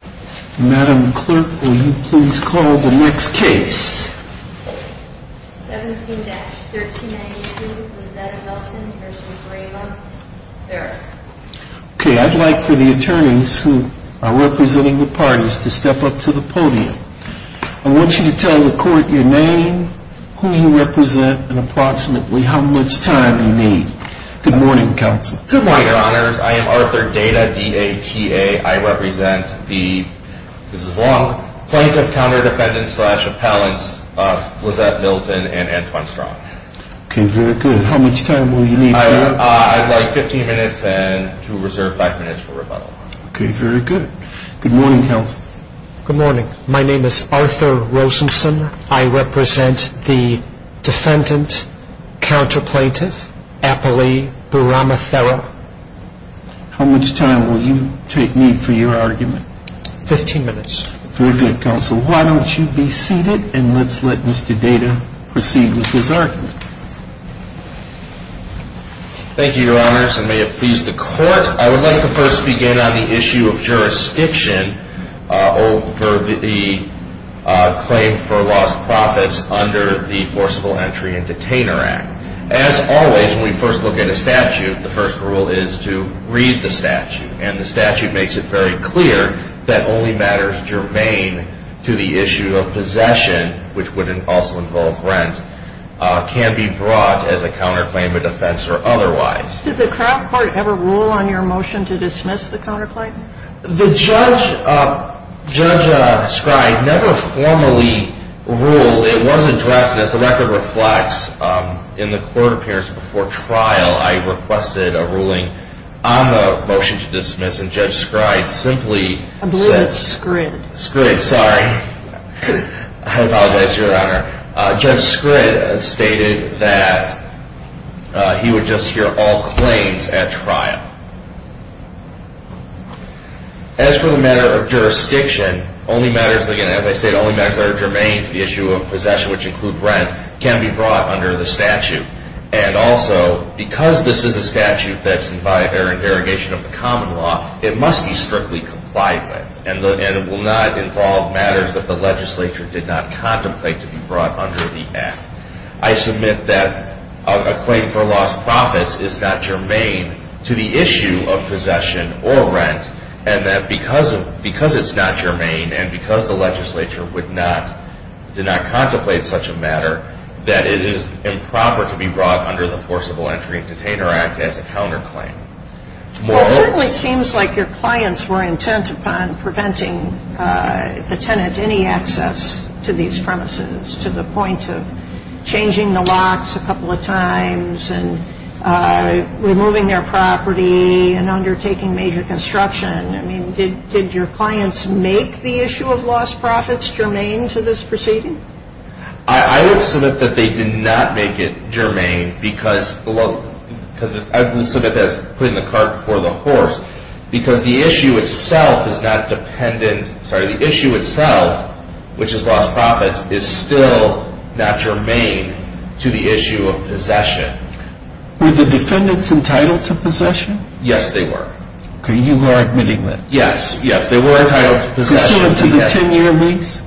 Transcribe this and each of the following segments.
Okay, I'd like for the attorneys who are representing the parties to step up to the podium. I want you to tell the court your name, who you represent, and approximately how much time you need. Good morning, counsel. Good morning, your honors. I am Arthur Data, D-A-T-A. I represent the, this is long, Plaintiff Counter Defendant Slash Appellants Lizette Milton and Antoine Strong. Okay, very good. How much time will you need? I'd like 15 minutes and to reserve 5 minutes for rebuttal. Okay, very good. Good morning, counsel. Good morning. My name is Arthur Rosenson. I represent the Defendant Counter Plaintiff Appellee Burama Therra. How much time will you take me for your argument? 15 minutes. Very good, counsel. Why don't you be seated and let's let Mr. Data proceed with his argument. Thank you, your honors, and may it please the court. I would like to first begin on the issue of jurisdiction over the claim for lost profits under the Forcible Entry and Detainer Act. As always, when we first look at a statute, the first rule is to read the statute. And the statute makes it very clear that only matters germane to the issue of possession, which would also involve rent, can be brought as a counterclaim, a defense, or otherwise. Did the Crown Court ever rule on your motion to dismiss the counterclaim? The judge, Judge Scryde, never formally ruled. It was addressed, as the record reflects, in the court appearance before trial. I requested a ruling on the motion to dismiss, and Judge Scryde simply said... I believe it's Scrid. Scrid, sorry. I apologize, your honor. Judge Scryde stated that he would just hear all claims at trial. As for the matter of jurisdiction, only matters, again, as I said, only matters that are germane to the issue of possession, which include rent, can be brought under the statute. And also, because this is a statute that's by derogation of the common law, it must be strictly compliant with. And it will not involve matters that the legislature did not contemplate to be brought under the act. I submit that a claim for lost profits is not germane to the issue of possession or rent, and that because it's not germane, and because the legislature did not contemplate such a matter, that it is improper to be brought under the Forcible Entry and Detainer Act as a counterclaim. Well, it certainly seems like your clients were intent upon preventing the tenant any access to these premises, to the point of changing the locks a couple of times, and removing their property, and undertaking major construction. I mean, did your clients make the issue of lost profits germane to this proceeding? I would submit that they did not make it germane, because I would submit that as putting the cart before the horse, because the issue itself is not dependent, sorry, the issue itself, which is lost profits, is still not germane to the issue of possession. Were the defendants entitled to possession? Yes, they were. Okay, you are admitting that. Yes, yes, they were entitled to possession. Pursuant to the 10-year lease?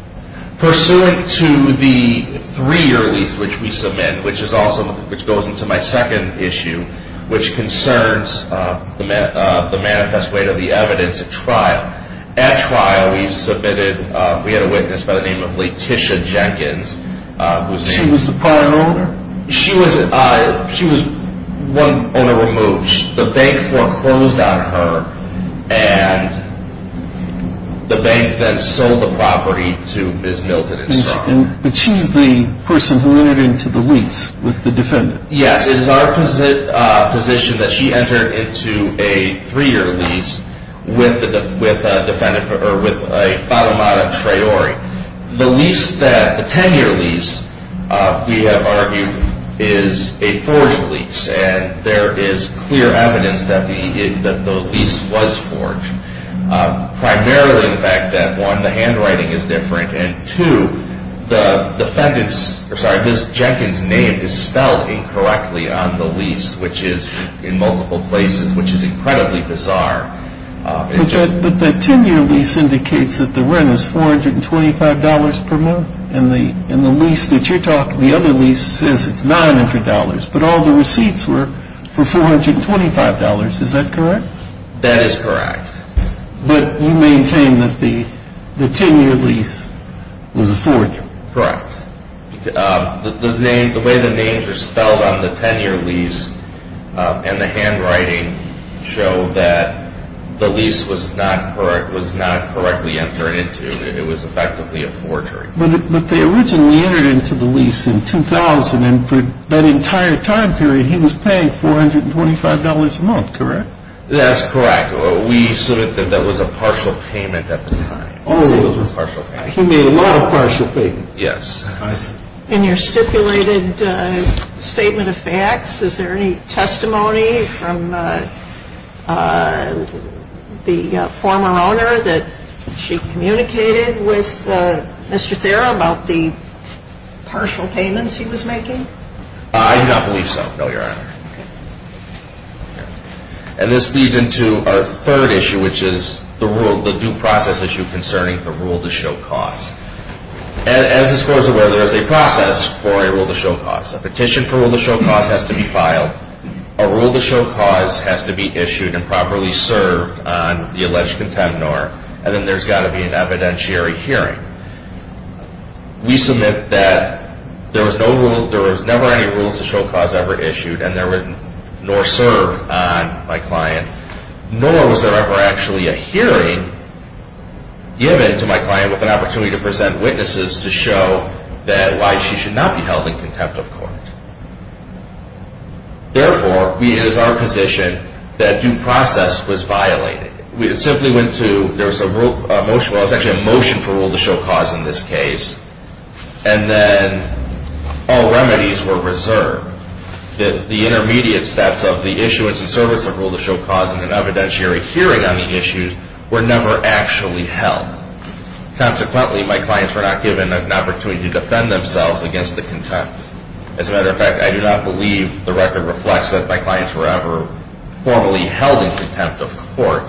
Pursuant to the 3-year lease, which we submit, which is also, which goes into my second issue, which concerns the manifest weight of the evidence at trial. At trial, we submitted, we had a witness by the name of Laetitia Jenkins. She was the prior owner? She was one owner removed. The bank foreclosed on her, and the bank then sold the property to Ms. Milton and Strong. But she's the person who entered into the lease with the defendant? Yes, it is our position that she entered into a 3-year lease with a defendant, or with a fata moda traore. The lease that, the 10-year lease, we have argued, is a forged lease, and there is clear evidence that the lease was forged. Primarily the fact that, one, the handwriting is different, and two, the defendant's, sorry, Ms. Jenkins' name is spelled incorrectly on the lease, which is in multiple places, which is incredibly bizarre. But the 10-year lease indicates that the rent is $425 per month, and the lease that you're talking, the other lease says it's $900, but all the receipts were for $425. Is that correct? That is correct. But you maintain that the 10-year lease was a forged? Correct. The way the names are spelled on the 10-year lease and the handwriting show that the lease was not correctly entered into. It was effectively a forged. But they originally entered into the lease in 2000, and for that entire time period, he was paying $425 a month, correct? That's correct. We said that that was a partial payment at the time. He made a lot of partial payments. Yes. In your stipulated statement of facts, is there any testimony from the former owner that she communicated with Mr. Thera about the partial payments he was making? I do not believe so, no, Your Honor. And this leads into our third issue, which is the due process issue concerning the rule-to-show cause. As the score is aware, there is a process for a rule-to-show cause. A petition for rule-to-show cause has to be filed. A rule-to-show cause has to be issued and properly served on the alleged contendor, and then there's got to be an evidentiary hearing. We submit that there was never any rules-to-show cause ever issued nor served on my client, nor was there ever actually a hearing given to my client with an opportunity to present witnesses to show why she should not be held in contempt of court. Therefore, it is our position that due process was violated. There was a motion for rule-to-show cause in this case, and then all remedies were reserved. The intermediate steps of the issuance and service of rule-to-show cause and an evidentiary hearing on the issue were never actually held. Consequently, my clients were not given an opportunity to defend themselves against the contempt. As a matter of fact, I do not believe the record reflects that my clients were ever formally held in contempt of court.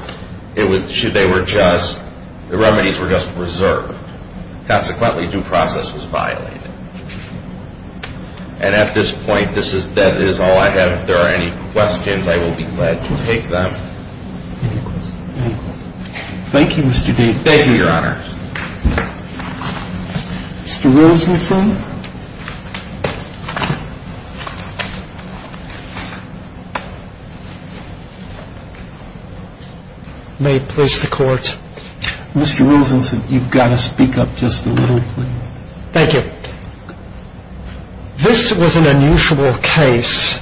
The remedies were just reserved. Consequently, due process was violated. And at this point, that is all I have. If there are any questions, I will be glad to take them. Any questions? Thank you, Mr. Davis. Thank you, Your Honor. Mr. Rosenstein? May it please the Court? Mr. Rosenstein, you've got to speak up just a little, please. Thank you. This was an unusual case.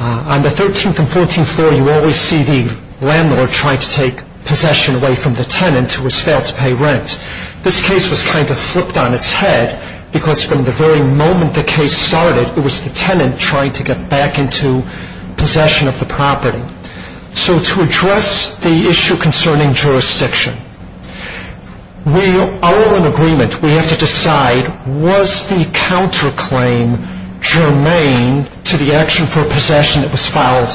On the 13th and 14th floor, you always see the landlord trying to take possession away from the tenant who has failed to pay rent. This case was kind of flipped on its head because from the very moment the case started, it was the tenant trying to get back into possession of the property. So to address the issue concerning jurisdiction, we are all in agreement. We have to decide, was the counterclaim germane to the action for a possession that was filed?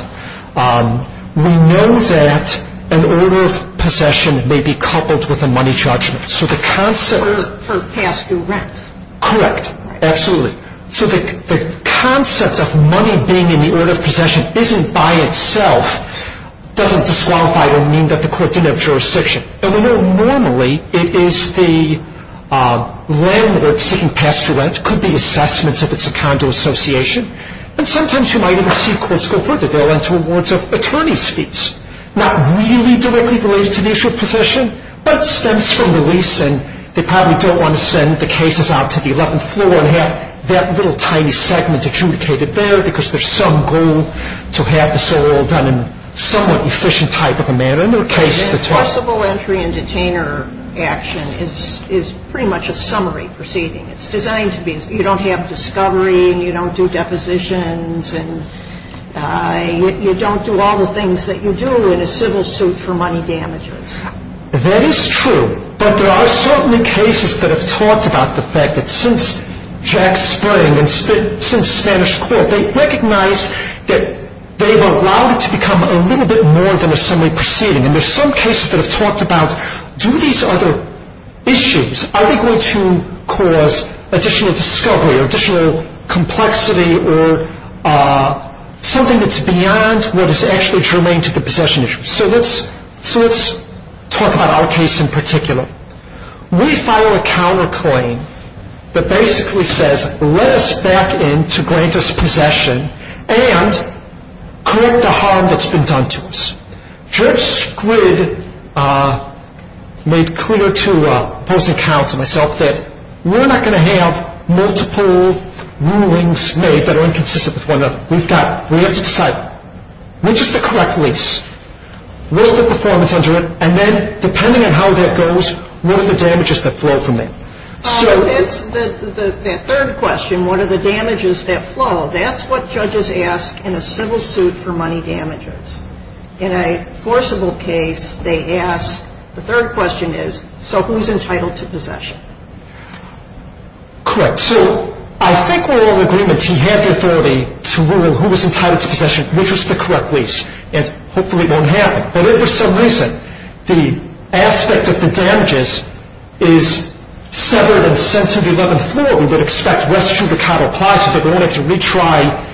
We know that an order of possession may be coupled with a money judgment. So the concept of money being in the order of possession isn't by itself doesn't disqualify or mean that the court didn't have jurisdiction. And we know normally it is the landlord seeking pass-through rent, could be assessments if it's a condo association. And sometimes you might even see courts go further. They'll run to a warrant of attorney's fees. Not really directly related to the issue of possession, but it stems from the lease, and they probably don't want to send the cases out to the 11th floor and have that little tiny segment adjudicated there because there's some goal to have this all done in a somewhat efficient type of a manner. And there are cases that do. The impossible entry and detainer action is pretty much a summary proceeding. It's designed to be. You don't have discovery, and you don't do depositions, and you don't do all the things that you do in a civil suit for money damages. That is true, but there are certainly cases that have talked about the fact that since Jack Spring and since Spanish Court, they recognize that they've allowed it to become a little bit more than a summary proceeding. And there's some cases that have talked about do these other issues, are they going to cause additional discovery or additional complexity or something that's beyond what is actually germane to the possession issue? So let's talk about our case in particular. We filed a counterclaim that basically says let us back in to grant us possession and correct the harm that's been done to us. Judge Squid made clear to opposing counsel and myself that we're not going to have multiple rulings made that are inconsistent with one another. We've got to decide, which is the correct lease? What's the performance under it? And then depending on how that goes, what are the damages that flow from that? That third question, what are the damages that flow, that's what judges ask in a civil suit for money damages. In a forcible case, they ask, the third question is, so who's entitled to possession? Correct. So I think we're all in agreement he had the authority to rule who was entitled to possession, which was the correct lease, and hopefully it won't happen. But if for some reason the aspect of the damages is severed and sent to the 11th floor, we would expect res judicata applies so that we won't have to retry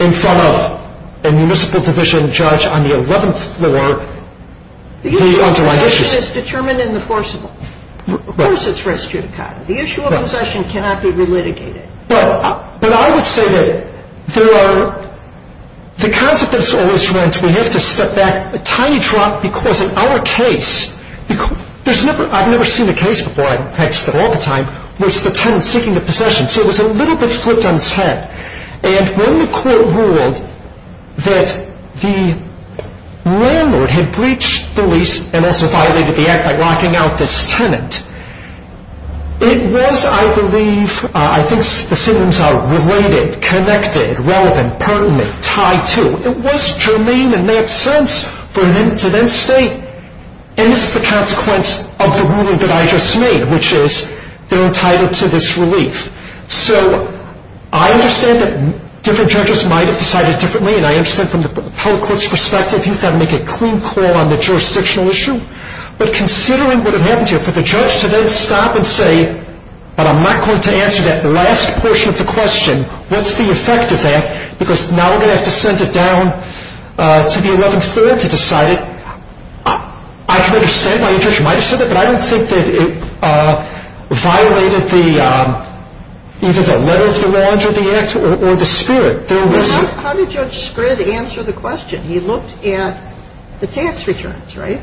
in front of a municipal division judge on the 11th floor the underlying issues. The issue of possession is determined in the forcible. Of course it's res judicata. The issue of possession cannot be relitigated. But I would say that there are, the concept that's always rent, we have to step back a tiny drop because in our case, I've never seen a case before, I text it all the time, where it's the tenant seeking the possession. So it was a little bit flipped on its head. And when the court ruled that the landlord had breached the lease and also violated the act by locking out this tenant, it was, I believe, I think the syndromes are related, connected, relevant, pertinent, tied to, it was germane in that sense for him to then state, and this is the consequence of the ruling that I just made, which is they're entitled to this relief. So I understand that different judges might have decided differently, and I understand from the public court's perspective he's got to make a clean call on the jurisdictional issue. But considering what had happened here, for the judge to then stop and say, but I'm not going to answer that last portion of the question, what's the effect of that? Because now we're going to have to send it down to the 11th floor to decide it. I can understand why you might have said that, but I don't think that it violated either the letter of the law under the act or the spirit. How did Judge Scrid answer the question? He looked at the tax returns, right?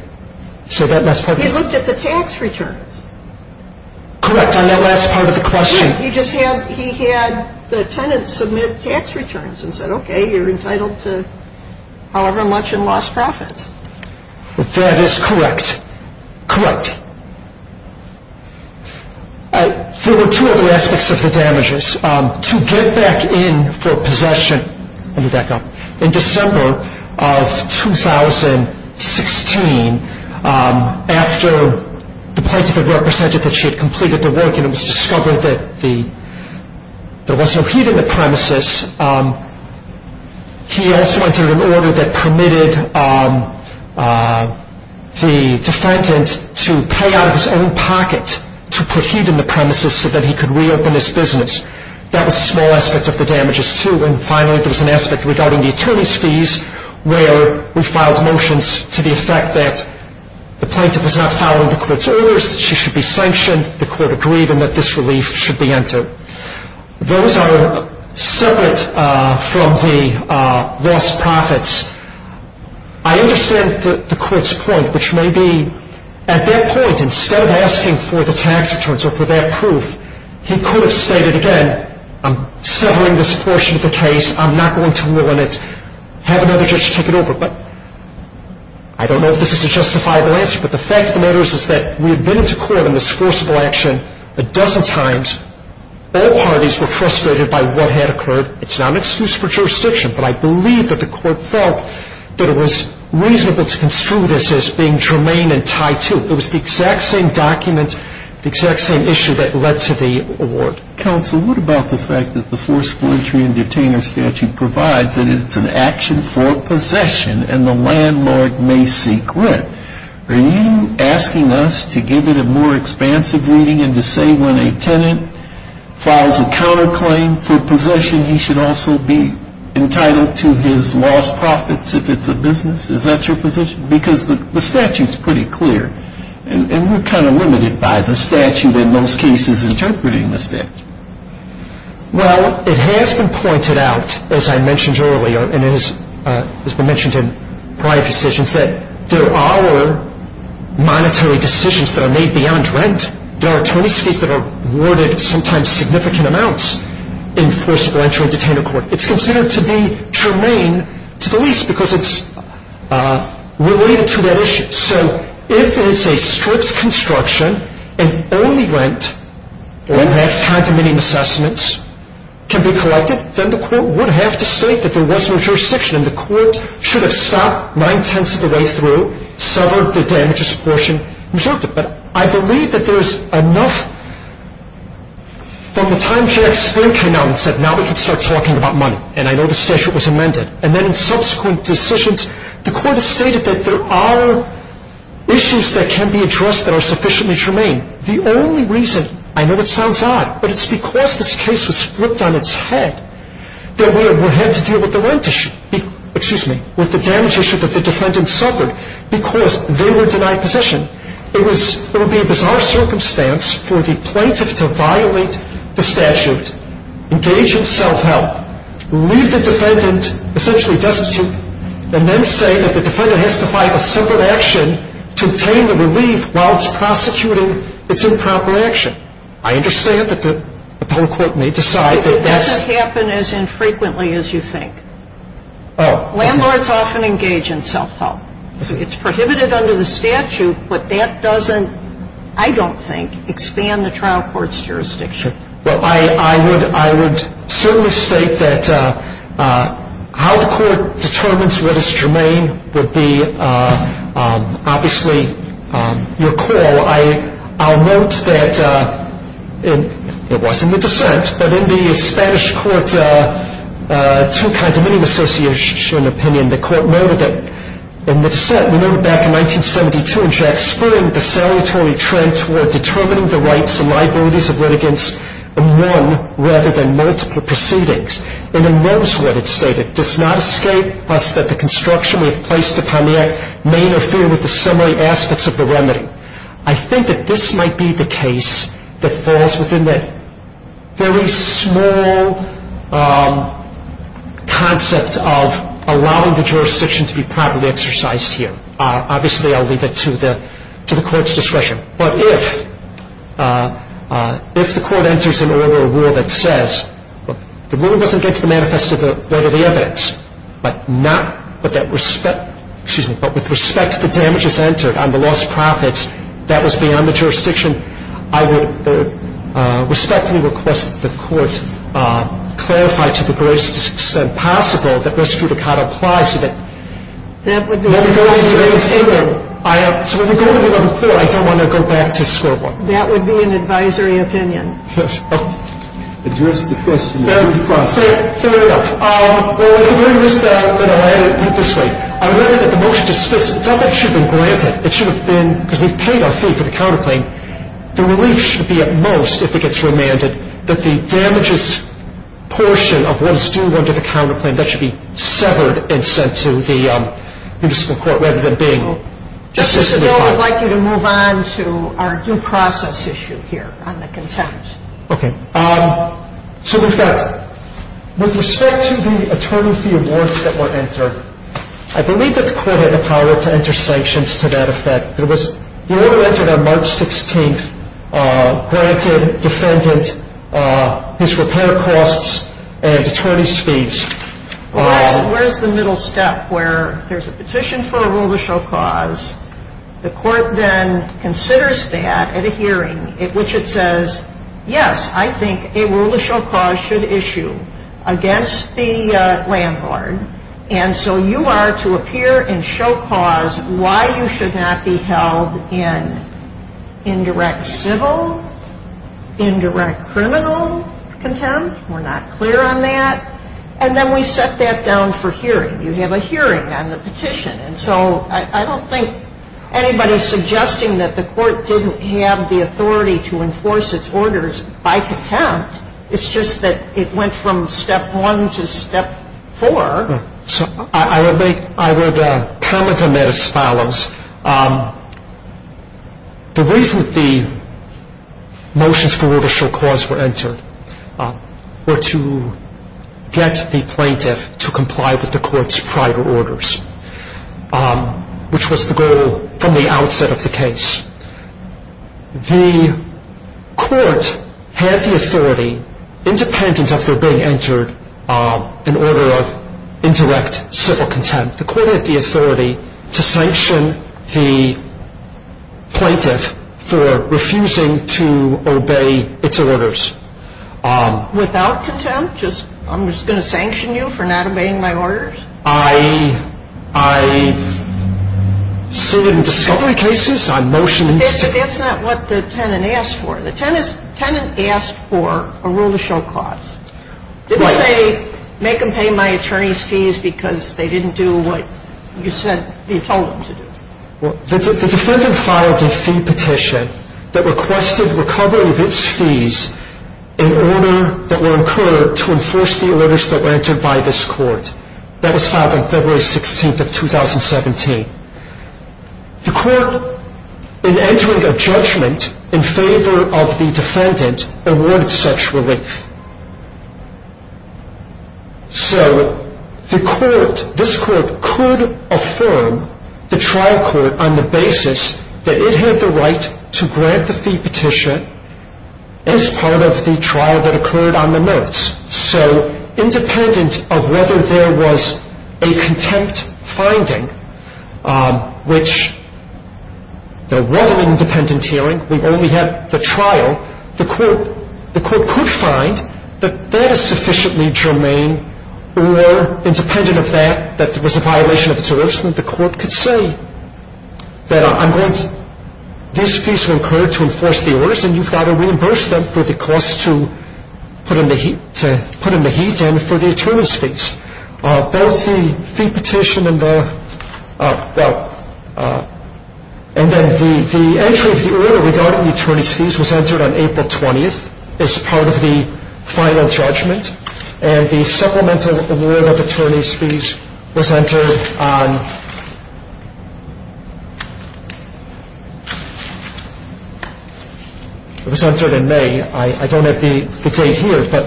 So that last part? He looked at the tax returns. Correct, on that last part of the question. He just had the tenants submit tax returns and said, okay, you're entitled to however much in lost profits. That is correct. Correct. There were two other aspects of the damages. To get back in for possession, let me back up. In December of 2016, after the plaintiff had represented that she had completed the work and it was discovered that there was no heat in the premises, he also entered an order that permitted the defendant to pay out of his own pocket to put heat in the premises so that he could reopen his business. That was a small aspect of the damages, too. And finally, there was an aspect regarding the attorney's fees, where we filed motions to the effect that the plaintiff was not following the court's orders, she should be sanctioned, the court agreed, and that this relief should be entered. Those are separate from the lost profits. I understand the court's point, which may be at that point, instead of asking for the tax returns or for that proof, he could have stated again, I'm severing this portion of the case, I'm not going to rule on it, have another judge take it over. I don't know if this is a justifiable answer, but the fact of the matter is that we have been into court on this forcible action a dozen times. All parties were frustrated by what had occurred. It's not an excuse for jurisdiction, but I believe that the court felt that it was reasonable to construe this as being germane and tied to. It was the exact same document, the exact same issue that led to the award. Counsel, what about the fact that the forcible entry and detainer statute provides that it's an action for possession and the landlord may seek rent? Are you asking us to give it a more expansive reading and to say when a tenant files a counterclaim for possession, he should also be entitled to his lost profits if it's a business? Is that your position? Because the statute's pretty clear, and we're kind of limited by the statute in most cases interpreting the statute. Well, it has been pointed out, as I mentioned earlier, and it has been mentioned in prior decisions, that there are monetary decisions that are made beyond rent. There are attorneys fees that are awarded sometimes significant amounts in forcible entry and detainer court. It's considered to be germane to the least because it's related to that issue. So if it's a strict construction and only rent or max-high-to-minimum assessments can be collected, then the court would have to state that there was no jurisdiction, and the court should have stopped nine-tenths of the way through, severed the damages portion, and resorted. But I believe that there's enough from the time J.X. Spoon came out and said, now we can start talking about money, and I know the statute was amended. And then in subsequent decisions, the court has stated that there are issues that can be addressed that are sufficiently germane. The only reason, I know it sounds odd, but it's because this case was flipped on its head that we had to deal with the damage issue that the defendant suffered because they were denied possession. It would be a bizarre circumstance for the plaintiff to violate the statute, engage in self-help, leave the defendant essentially destitute, and then say that the defendant has to fight a civil action to obtain the relief while it's prosecuting its improper action. I understand that the public court may decide that that's ‑‑ It doesn't happen as infrequently as you think. Oh. Landlords often engage in self-help. It's prohibited under the statute, but that doesn't, I don't think, expand the trial court's jurisdiction. Sure. Well, I would certainly state that how the court determines what is germane would be obviously your call. I'll note that it was in the dissent, but in the Spanish court, two kinds of association opinion, the court noted that in the dissent, we noted back in 1972 in Jack Spoon, the salutary trend toward determining the rights and liabilities of litigants in one rather than multiple proceedings. And it notes what it stated, does not escape us that the construction we have placed upon the act may interfere with the summary aspects of the remedy. I think that this might be the case that falls within the very small concept of allowing the jurisdiction to be properly exercised here. Obviously, I'll leave it to the court's discretion. But if the court enters into a rule that says the rule wasn't against the manifest of the evidence, but with respect to the damages entered on the lost profits, that was beyond the jurisdiction, I would respectfully request that the court clarify to the greatest extent possible that this judicata applies to it. That would be an advisory opinion. So when we go to the number four, I don't want to go back to square one. That would be an advisory opinion. Address the question. Fair enough. Fair enough. Well, in the very least, I'm going to add it this way. I read that the motion dismisses. It's not that it should have been granted. It should have been, because we paid our fee for the counterclaim. The relief should be at most, if it gets remanded, that the damages portion of what is due under the counterclaim, that should be severed and sent to the municipal court rather than being consistently filed. I would like you to move on to our due process issue here on the contempt. Okay. So we've got, with respect to the attorney fee awards that were entered, I believe that the court had the power to enter sanctions to that effect. The order entered on March 16th granted defendant his repair costs and attorney's fees. Where's the middle step where there's a petition for a rule of show cause. The court then considers that at a hearing, which it says, yes, I think a rule of show cause should issue against the landlord. And so you are to appear and show cause why you should not be held in indirect civil, indirect criminal contempt. We're not clear on that. And then we set that down for hearing. You have a hearing on the petition. And so I don't think anybody's suggesting that the court didn't have the authority to enforce its orders by contempt. It's just that it went from step one to step four. So I would make, I would comment on that as follows. The reason the motions for rule of show cause were entered were to get the plaintiff to comply with the court's prior orders, which was the goal from the outset of the case. The court had the authority, independent of their being entered in order of indirect civil contempt, the court had the authority to sanction the plaintiff for refusing to obey its orders. Without contempt? I'm just going to sanction you for not obeying my orders? I sued in discovery cases. That's not what the tenant asked for. The tenant asked for a rule of show cause. Did they make them pay my attorney's fees because they didn't do what you said you told them to do? The defendant filed a fee petition that requested recovery of its fees in order that were incurred to enforce the orders that were entered by this court. That was filed on February 16th of 2017. The court, in entering a judgment in favor of the defendant, awarded such relief. So the court, this court, could affirm the trial court on the basis that it had the right to grant the fee petition as part of the trial that occurred on the notes. So independent of whether there was a contempt finding, which there wasn't an independent hearing. We only had the trial. The court could find that that is sufficiently germane or independent of that, that there was a violation of its orders. The court could say that I'm going to, these fees were incurred to enforce the orders and you've got to reimburse them for the cost to put in the heat and for the attorney's fees. Both the fee petition and the, well, and then the entry of the order regarding the attorney's fees was entered on April 20th as part of the final judgment. And the supplemental award of attorney's fees was entered on, it was entered in May. I don't have the date here, but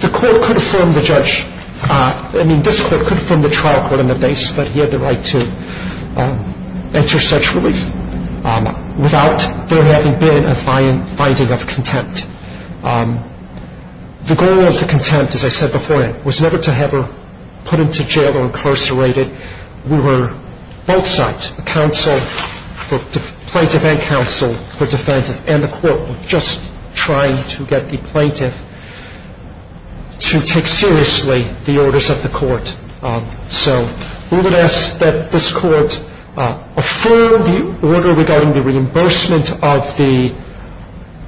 the court could affirm the judge, I mean, this court could affirm the trial court on the basis that he had the right to enter such relief without there having been a finding of contempt. The goal of the contempt, as I said before, was never to have her put into jail or incarcerated. We were both sides, a counsel, plaintiff and counsel, were defending. And the court were just trying to get the plaintiff to take seriously the orders of the court. So we would ask that this court affirm the order regarding the reimbursement of the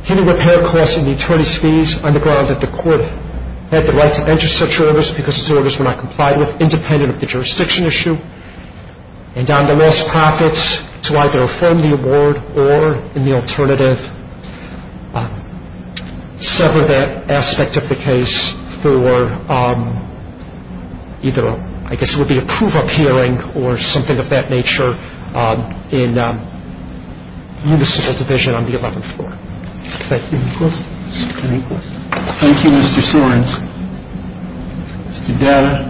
heat and repair costs and the attorney's fees, on the grounds that the court had the right to enter such orders because these orders were not complied with, independent of the jurisdiction issue. And on the loss of profits to either affirm the award or in the alternative sever that aspect of the case for either, I guess it would be a proof of hearing or something of that nature in municipal division on the 11th floor. Thank you. Thank you, Mr. Sorens. Mr. Dada,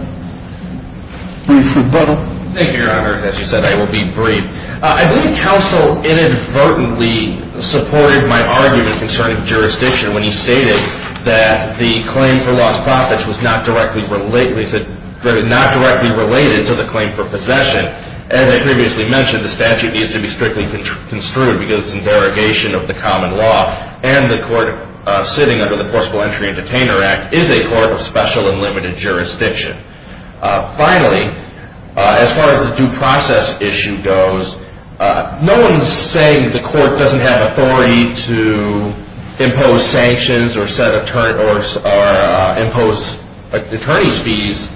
brief rebuttal. Thank you, Your Honor. As you said, I will be brief. I believe counsel inadvertently supported my argument concerning jurisdiction when he stated that the claim for lost profits was not directly related to the claim for possession. As I previously mentioned, the statute needs to be strictly construed because it's in derogation of the common law. And the court sitting under the Forcible Entry and Detainer Act is a court of special and limited jurisdiction. Finally, as far as the due process issue goes, no one is saying that the court doesn't have authority to impose sanctions or impose attorney's fees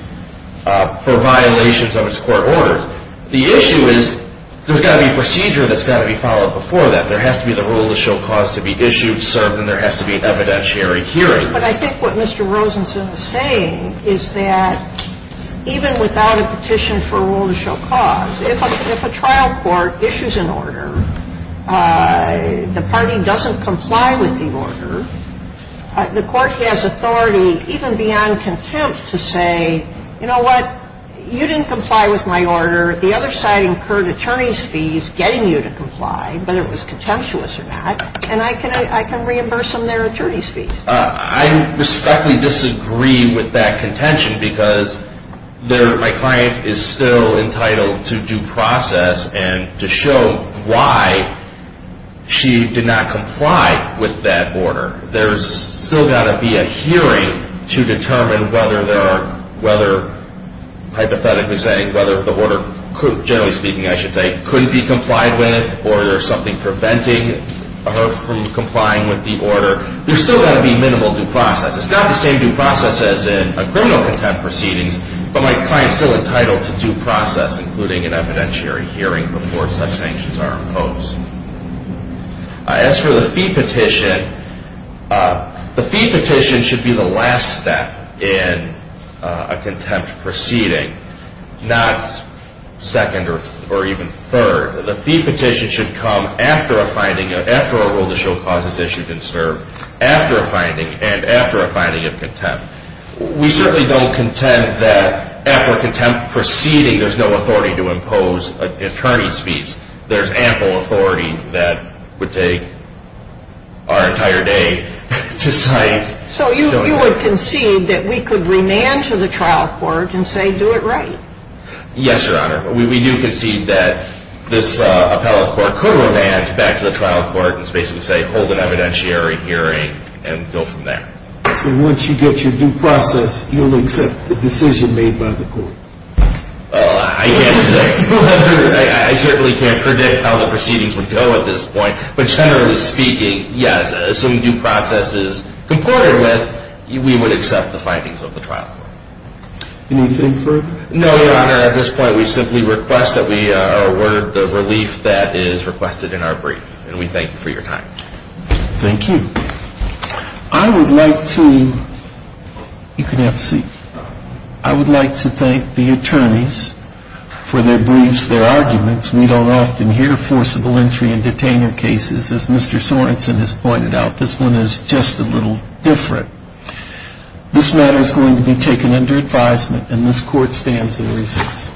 for violations of its court orders. The issue is there's got to be a procedure that's got to be followed before that. There has to be the rule that shall cause to be issued, served, and there has to be an evidentiary hearing. But I think what Mr. Rosenson is saying is that even without a petition for a rule to show cause, if a trial court issues an order, the party doesn't comply with the order, the court has authority even beyond contempt to say, you know what, you didn't comply with my order. The other side incurred attorney's fees getting you to comply, whether it was contemptuous or not, and I can reimburse them their attorney's fees. I respectfully disagree with that contention because my client is still entitled to due process and to show why she did not comply with that order. There's still got to be a hearing to determine whether hypothetically saying whether the order, generally speaking I should say, couldn't be complied with or there's something preventing her from complying with the order. There's still got to be minimal due process. It's not the same due process as in a criminal contempt proceedings, but my client is still entitled to due process, including an evidentiary hearing before such sanctions are imposed. As for the fee petition, the fee petition should be the last step in a contempt proceeding, not second or even third. The fee petition should come after a finding, after a rule that shall cause this issue to disturb, after a finding and after a finding of contempt. We certainly don't contend that after a contempt proceeding there's no authority to impose attorney's fees. There's ample authority that would take our entire day to cite. So you would concede that we could remand to the trial court and say do it right? Yes, Your Honor. We do concede that this appellate court could remand back to the trial court and basically say hold an evidentiary hearing and go from there. So once you get your due process, you'll accept the decision made by the court? I can't say. I certainly can't predict how the proceedings would go at this point, but generally speaking, yes. Assuming due process is comported with, we would accept the findings of the trial court. Anything further? No, Your Honor. At this point, we simply request that we award the relief that is requested in our brief, and we thank you for your time. Thank you. I would like to thank the attorneys for their briefs, their arguments. We don't often hear forcible entry in detainment cases. As Mr. Sorensen has pointed out, this one is just a little different. This matter is going to be taken under advisement, and this court stands in recess.